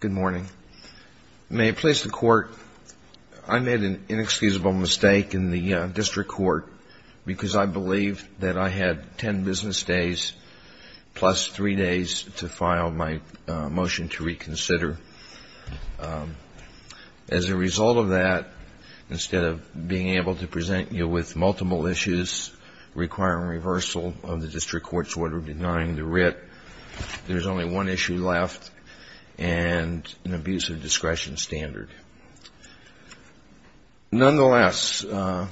Good morning. May it please the Court, I made an inexcusable mistake in the district court because I believed that I had ten business days plus three days to file my motion to reconsider. As a result of that, instead of being able to present you with multiple issues requiring reversal of the district court's order denying the writ, there's only one issue left and an abuse of discretion standard. Nonetheless, I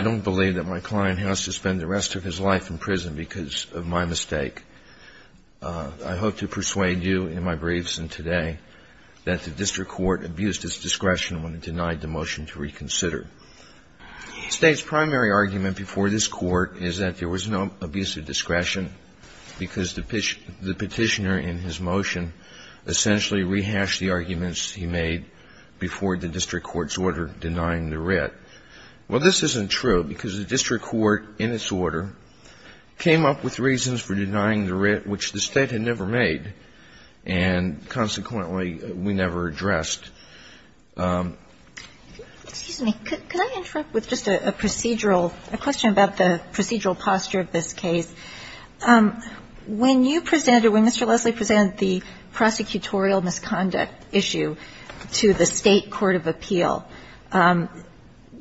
don't believe that my client has to spend the rest of his life in prison because of my mistake. I hope to persuade you in my briefs and today that the district court abused its discretion when it denied the motion to reconsider. The State's primary argument before this Court is that there was no abuse of discretion because the Petitioner in his motion essentially rehashed the arguments he made before the district court's order denying the writ. Well, this isn't true because the district court in its order came up with reasons for denying the writ which the State had never made and consequently we never addressed. Excuse me. Could I interrupt with just a procedural question about the procedural posture of this case? When you presented, when Mr. Leslie presented the prosecutorial misconduct issue to the State court of appeal,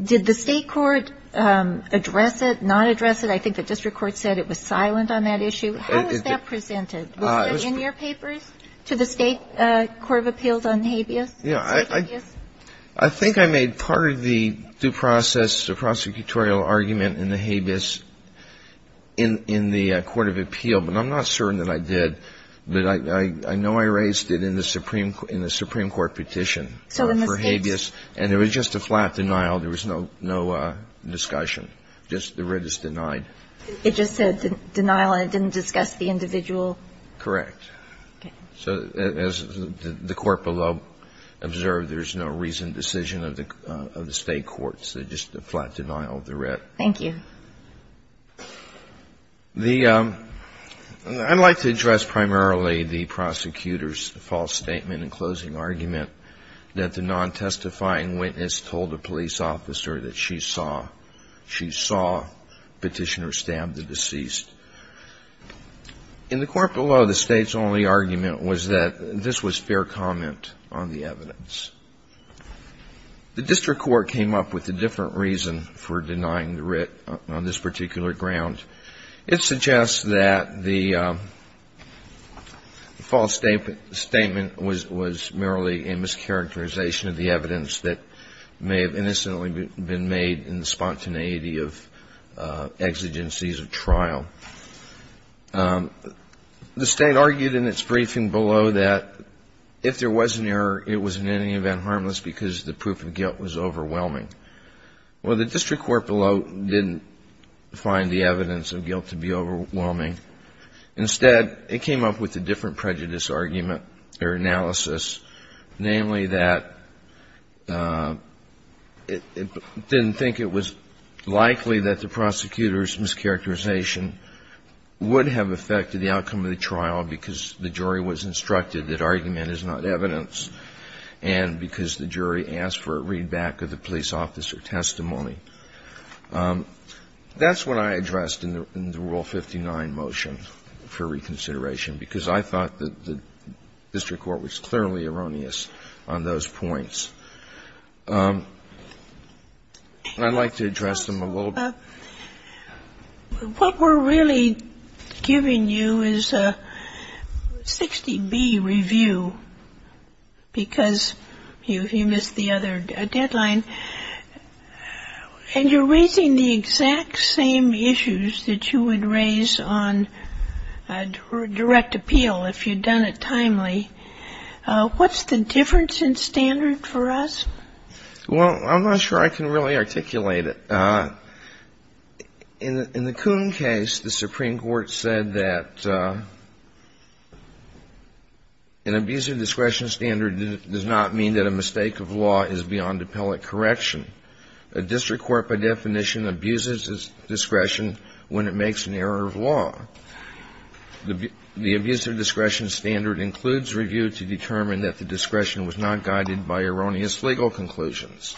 did the State court address it, not address it? I think the district court said it was silent on that issue. How was that presented? Was that in your papers to the State court of appeals on habeas? You know, I think I made part of the due process, the prosecutorial argument in the habeas in the court of appeal, but I'm not certain that I did. But I know I raised it in the Supreme Court petition for habeas and it was just a flat denial. There was no discussion. Just the writ is denied. It just said denial and it didn't discuss the individual? Correct. Okay. So as the court below observed, there's no reasoned decision of the State court, so just a flat denial of the writ. Thank you. The ‑‑ I'd like to address primarily the prosecutor's false statement and closing argument that the non-testifying witness told the police officer that she saw, she saw Petitioner stab the deceased. In the court below, the State's only argument was that this was fair comment on the evidence. The district court came up with a different reason for denying the writ on this particular ground. It suggests that the false statement was merely a mischaracterization of the evidence that may have innocently been made in the spontaneity of exigencies of trial. The State argued in its briefing below that if there was an error, it was in any event harmless because the proof of guilt was overwhelming. Well, the district court below didn't find the evidence of guilt to be overwhelming. Instead, it came up with a different prejudice argument or analysis, namely that it didn't think it was likely that the prosecutor's mischaracterization would have affected the outcome of the trial because the jury was instructed that argument is not evidence and because the jury asked for a readback of the police officer testimony. That's what I addressed in the Rule 59 motion for reconsideration because I thought that the district court was clearly erroneous on those points. I'd like to address them a little bit. What we're really giving you is a 60B review because you missed the other deadline, and you're raising the exact same issues that you would raise on direct appeal if you'd done it timely. What's the difference in standard for us? Well, I'm not sure I can really articulate it. In the Coon case, the Supreme Court said that an abuser discretion standard does not mean that a mistake of law is beyond appellate correction. A district court, by definition, abuses discretion when it makes an error of law. The abuser discretion standard includes review to determine that the discretion was not guided by erroneous legal conclusions.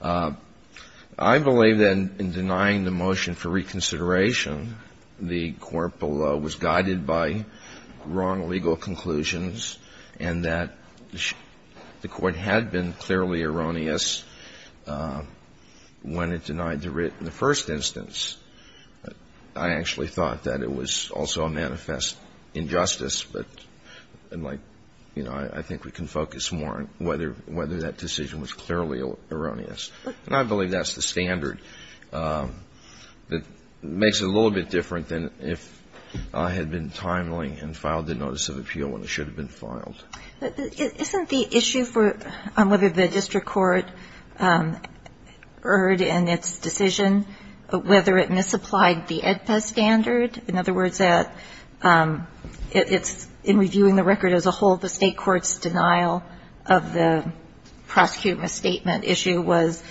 I believe that in denying the motion for reconsideration, the court below was guided by wrong legal conclusions and that the court had been clearly erroneous when it denied the writ in the first instance. I actually thought that it was also a manifest injustice, but I'm like, you know, I think we can focus more on whether that decision was clearly erroneous. And I believe that's the standard that makes it a little bit different than if I had been timely and filed the notice of appeal when it should have been filed. But isn't the issue for whether the district court erred in its decision, whether it misapplied the AEDPA standard? In other words, that it's in reviewing the record as a whole, the State court's denial of the prosecuting misstatement issue was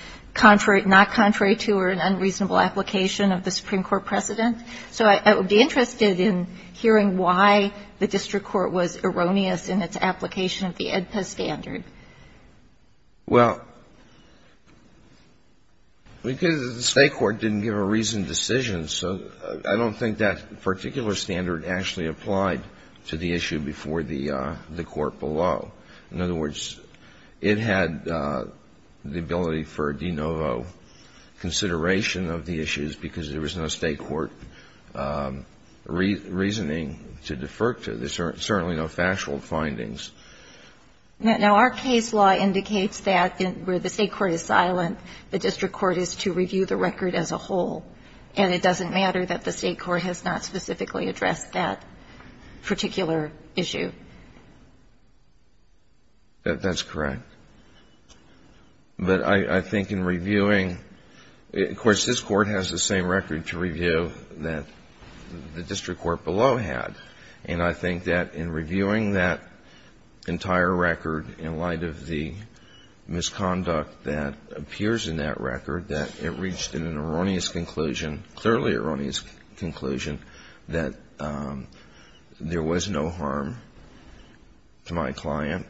not contrary to or an unreasonable application of the Supreme Court precedent. So I would be interested in hearing why the district court was erroneous in its application of the AEDPA standard. Well, because the State court didn't give a reasoned decision, so I don't think that that particular standard actually applied to the issue before the court below. In other words, it had the ability for de novo consideration of the issues because there was no State court reasoning to defer to. There's certainly no factual findings. Now, our case law indicates that where the State court is silent, the district court is to review the record as a whole, and it doesn't matter that the State court has not specifically addressed that particular issue. That's correct. But I think in reviewing, of course, this court has the same record to review that the district court below had. And I think that in reviewing that entire record in light of the misconduct that appears in that record, that it reached an erroneous conclusion, clearly erroneous conclusion, that there was no harm to my client,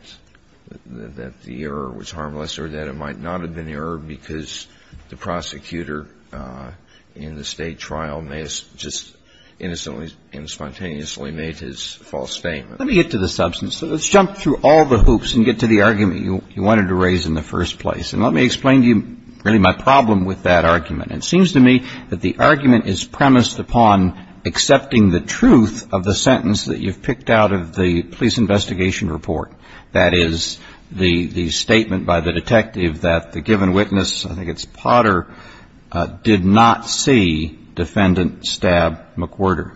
that the error was harmless, or that it might not have been error because the prosecutor in the State trial may have just innocently and spontaneously made his false statement. Let me get to the substance. Let's jump through all the hoops and get to the argument you wanted to raise in the first place. And let me explain to you really my problem with that argument. It seems to me that the argument is premised upon accepting the truth of the sentence that you've picked out of the police investigation report, that is, the statement by the detective that the given witness, I think it's Potter, did not see defendant stab McWhirter.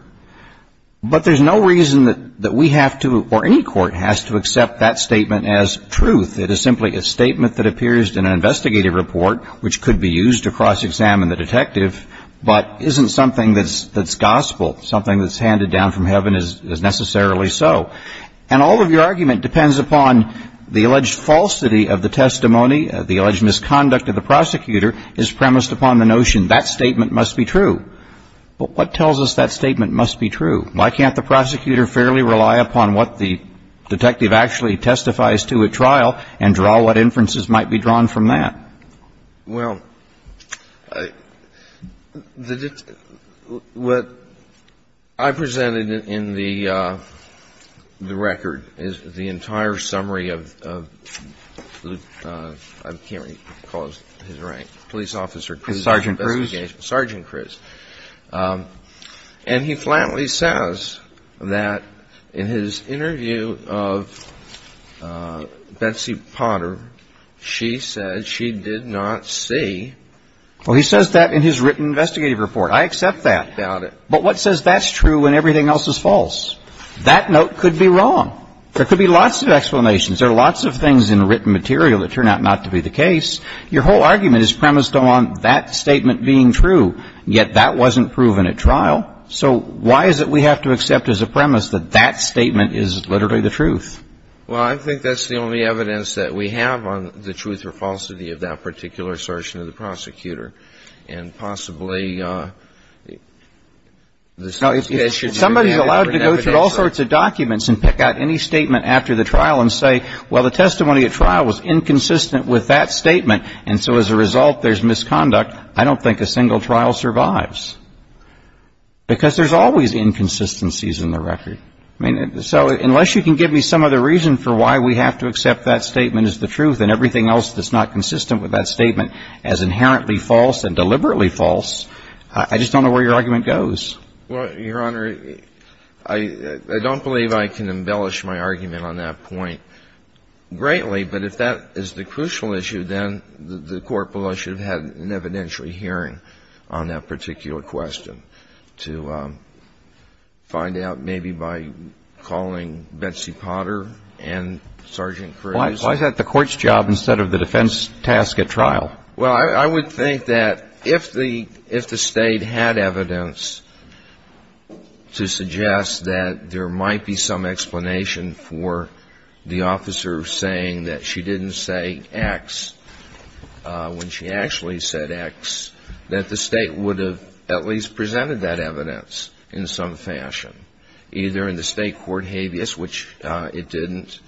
But there's no reason that we have to or any court has to accept that statement as truth. It is simply a statement that appears in an investigative report, which could be used to cross-examine the detective, but isn't something that's gospel. Something that's handed down from heaven is necessarily so. And all of your argument depends upon the alleged falsity of the testimony, the alleged misconduct of the prosecutor is premised upon the notion that statement must be true. But what tells us that statement must be true? Why can't the prosecutor fairly rely upon what the detective actually testifies to at trial and draw what inferences might be drawn from that? Well, what I presented in the record is the entire summary of Luke, I can't recall his rank, police officer Cruz's investigation. Sergeant Cruz. Sergeant Cruz. And he flatly says that in his interview of Betsy Potter, she said she did not see. Well, he says that in his written investigative report. I accept that. Doubt it. But what says that's true when everything else is false? That note could be wrong. There could be lots of explanations. There are lots of things in written material that turn out not to be the case. Your whole argument is premised upon that statement being true, yet that wasn't proven at trial. So why is it we have to accept as a premise that that statement is literally the truth? Well, I think that's the only evidence that we have on the truth or falsity of that particular assertion of the prosecutor. And possibly the case should be reviewed. If somebody is allowed to go through all sorts of documents and pick out any statement after the trial and say, well, the testimony at trial was inconsistent with that statement, and so as a result there's misconduct, I don't think a single trial survives. Because there's always inconsistencies in the record. I mean, so unless you can give me some other reason for why we have to accept that statement as the truth and everything else that's not consistent with that statement as inherently false and deliberately false, I just don't know where your argument goes. Well, Your Honor, I don't believe I can embellish my argument on that point greatly, but if that is the crucial issue, then the Court should have had an evidentiary hearing on that particular question to find out maybe by calling Betsy Potter and Sergeant Cruz. Why is that the Court's job instead of the defense task at trial? Well, I would think that if the State had evidence to suggest that there might be some explanation for the officer saying that she didn't say X when she actually said X, that the State would have at least presented that evidence in some fashion, either in the State court habeas, which it didn't,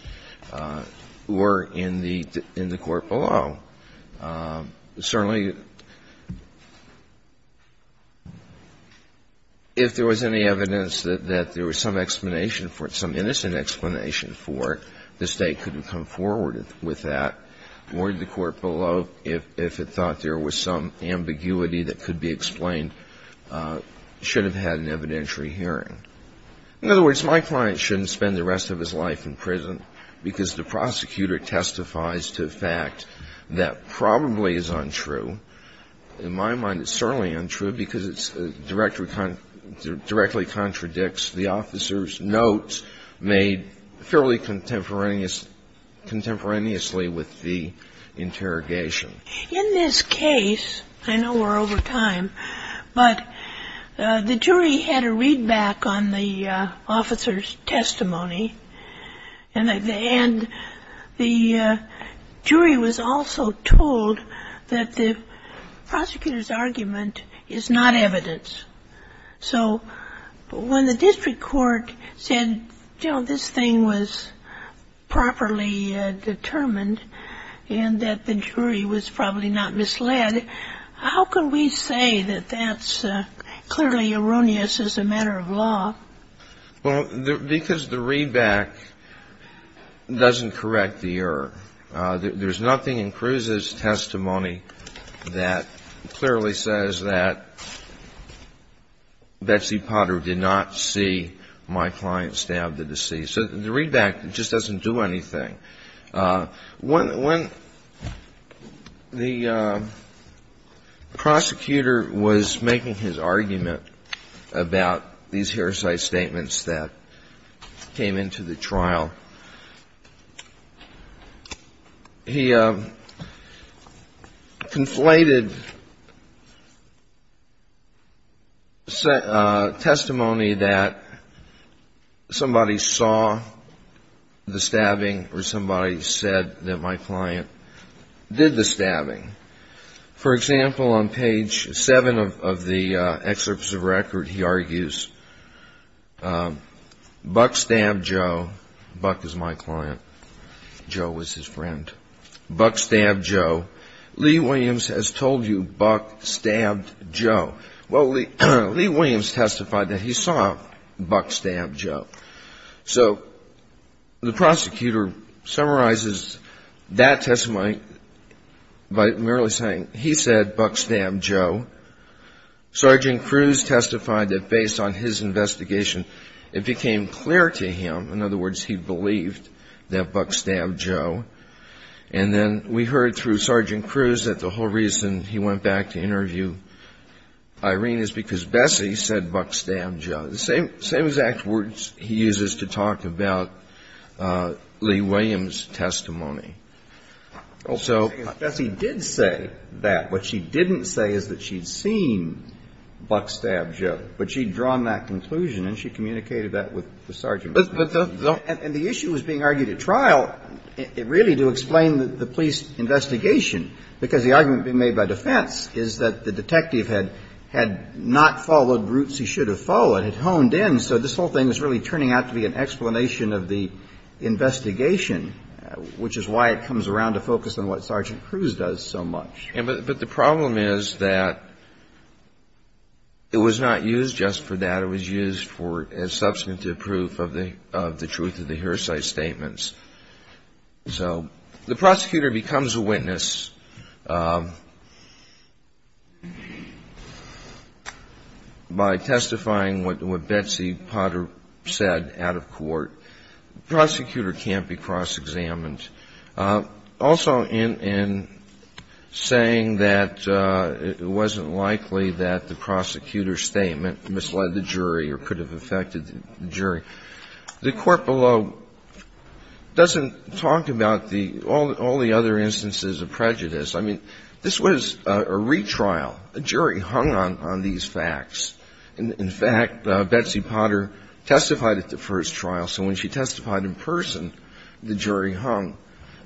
or in the court below. Certainly, if there was any evidence that there was some explanation for it, some innocent explanation for it, the State couldn't come forward with that, or in the court below, if it thought there was some ambiguity that could be explained, should have had an evidentiary hearing. In other words, my client shouldn't spend the rest of his life in prison because the prosecutor testifies to a fact that probably is untrue. In my mind, it's certainly untrue because it directly contradicts the officer's notes made fairly contemporaneously with the interrogation. In this case, I know we're over time, but the jury had a readback on the officer's testimony, and the jury was also told that the prosecutor's argument is not evidence. So when the district court said, you know, this thing was properly determined and that the jury was probably not misled, how can we say that that's clearly erroneous as a matter of law? Well, because the readback doesn't correct the error. There's nothing in Cruz's testimony that clearly says that Betsy Potter did not see my client stab the deceased. So the readback just doesn't do anything. When the prosecutor was making his argument about these heresy statements that came into the trial, he conflated testimony that somebody saw the stabbing, received that my client did the stabbing. For example, on page 7 of the excerpts of record, he argues, Buck stabbed Joe. Buck is my client. Joe was his friend. Buck stabbed Joe. Lee Williams has told you Buck stabbed Joe. Well, Lee Williams testified that he saw Buck stab Joe. So the prosecutor summarizes that testimony by merely saying he said Buck stabbed Joe. Sergeant Cruz testified that based on his investigation, it became clear to him, in other words, he believed that Buck stabbed Joe. And then we heard through Sergeant Cruz that the whole reason he went back to interview Irene is because Betsy said Buck stabbed Joe. The same exact words he uses to talk about Lee Williams' testimony. So he did say that. What she didn't say is that she'd seen Buck stabbed Joe, but she'd drawn that conclusion and she communicated that with the sergeant. And the issue was being argued at trial really to explain the police investigation, because the argument being made by defense is that the detective had not followed routes he should have followed, had honed in. So this whole thing is really turning out to be an explanation of the investigation, which is why it comes around to focus on what Sergeant Cruz does so much. But the problem is that it was not used just for that. It was used for substantive proof of the truth of the hearsay statements. So the prosecutor becomes a witness. By testifying what Betsy Potter said out of court, the prosecutor can't be cross-examined. Also, in saying that it wasn't likely that the prosecutor's statement misled the jury or could have affected the jury, the court below doesn't talk about all the other instances of prejudice. I mean, this was a retrial. A jury hung on these facts. In fact, Betsy Potter testified at the first trial. So when she testified in person, the jury hung.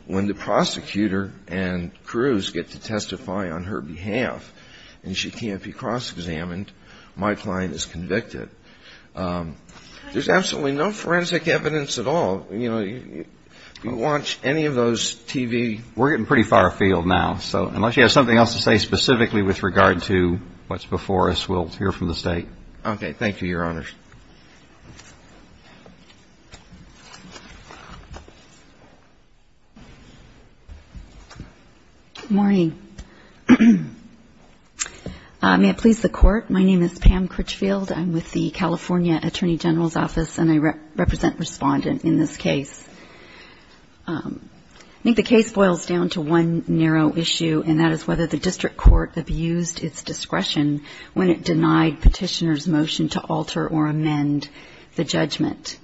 When the prosecutor and Cruz get to testify on her behalf and she can't be cross-examined, my client is convicted. There's absolutely no forensic evidence at all. You know, you watch any of those TV – We're getting pretty far afield now. So unless you have something else to say specifically with regard to what's before us, we'll hear from the State. Okay. Thank you, Your Honors. Good morning. May it please the Court, my name is Pam Critchfield. I'm with the California Attorney General's Office and I represent Respondent in this case. I think the case boils down to one narrow issue, and that is whether the district court abused its discretion when it denied Petitioner's motion to alter or amend the judgment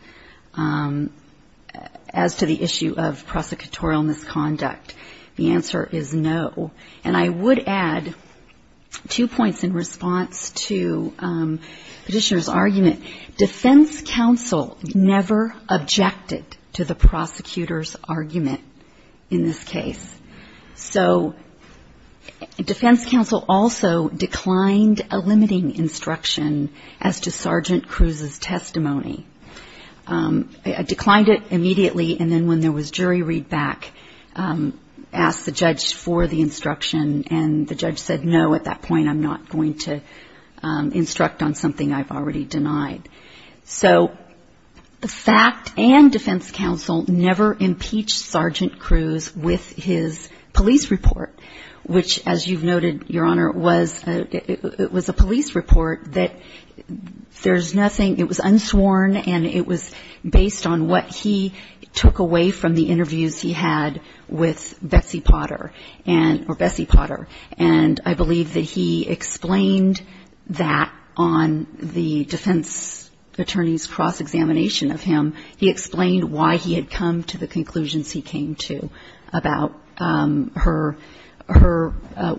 as to the issue of prosecutorial misconduct. The answer is no. And I would add two points in response to Petitioner's argument. Defense counsel never objected to the prosecutor's argument in this case. So defense counsel also declined a limiting instruction as to Sergeant Cruz's testimony. It declined it immediately, and then when there was jury readback, asked the judge for the instruction, and the judge said no, at that point I'm not going to instruct on something I've already denied. So the fact and defense counsel never impeached Sergeant Cruz with his police report, which as you've noted, Your Honor, was a police report that there's nothing, it was unsworn, and it was based on what he took away from the interviews he had with Betsy Potter, or Betsy Potter, and I believe that he explained that on the defense attorney's cross-examination of him. He explained why he had come to the conclusions he came to about her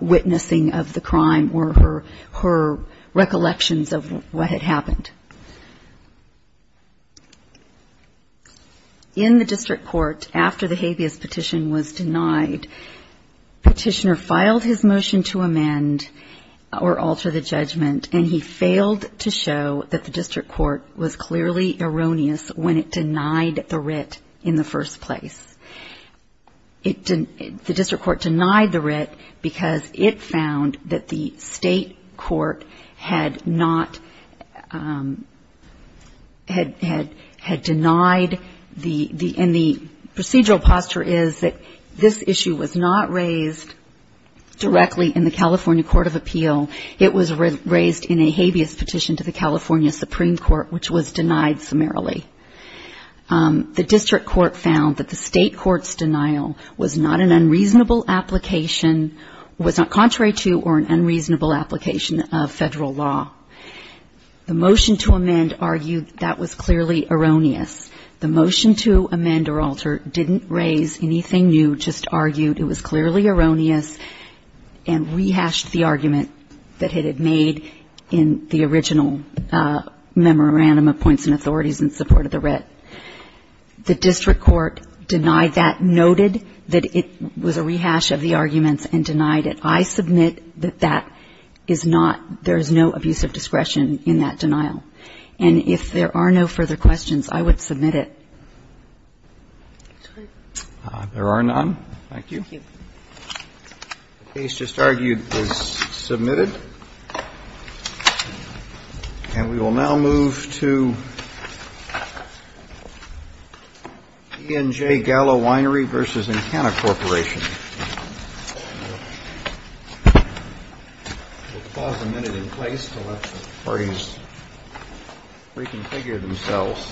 witnessing of the crime or her recollections of what had happened. In the district court, after the habeas petition was denied, Petitioner filed his motion to amend or alter the judgment, and he failed to show that the district court was clearly erroneous when it denied the writ in the first place. The district court denied the writ because it found that the state court had not, had denied the, and the procedural posture is that this issue was not raised directly in the California Court of Appeal, it was raised in a habeas petition to the California Supreme Court, which was denied summarily. The district court found that the state court's denial was not an unreasonable application, was not contrary to or an unreasonable application of federal law. The motion to amend argued that was clearly erroneous. The motion to amend or alter didn't raise anything new, just argued it was clearly erroneous, and rehashed the argument that it had made in the original memorandum of points and authorities in support of the writ. The district court denied that, noted that it was a rehash of the arguments and denied it. I submit that that is not, there is no abuse of discretion in that denial. And if there are no further questions, I would submit it. There are none. Thank you. The case just argued is submitted. And we will now move to E&J Gallo Winery v. Encana Corporation. We'll pause a minute in place to let the parties reconfigure themselves.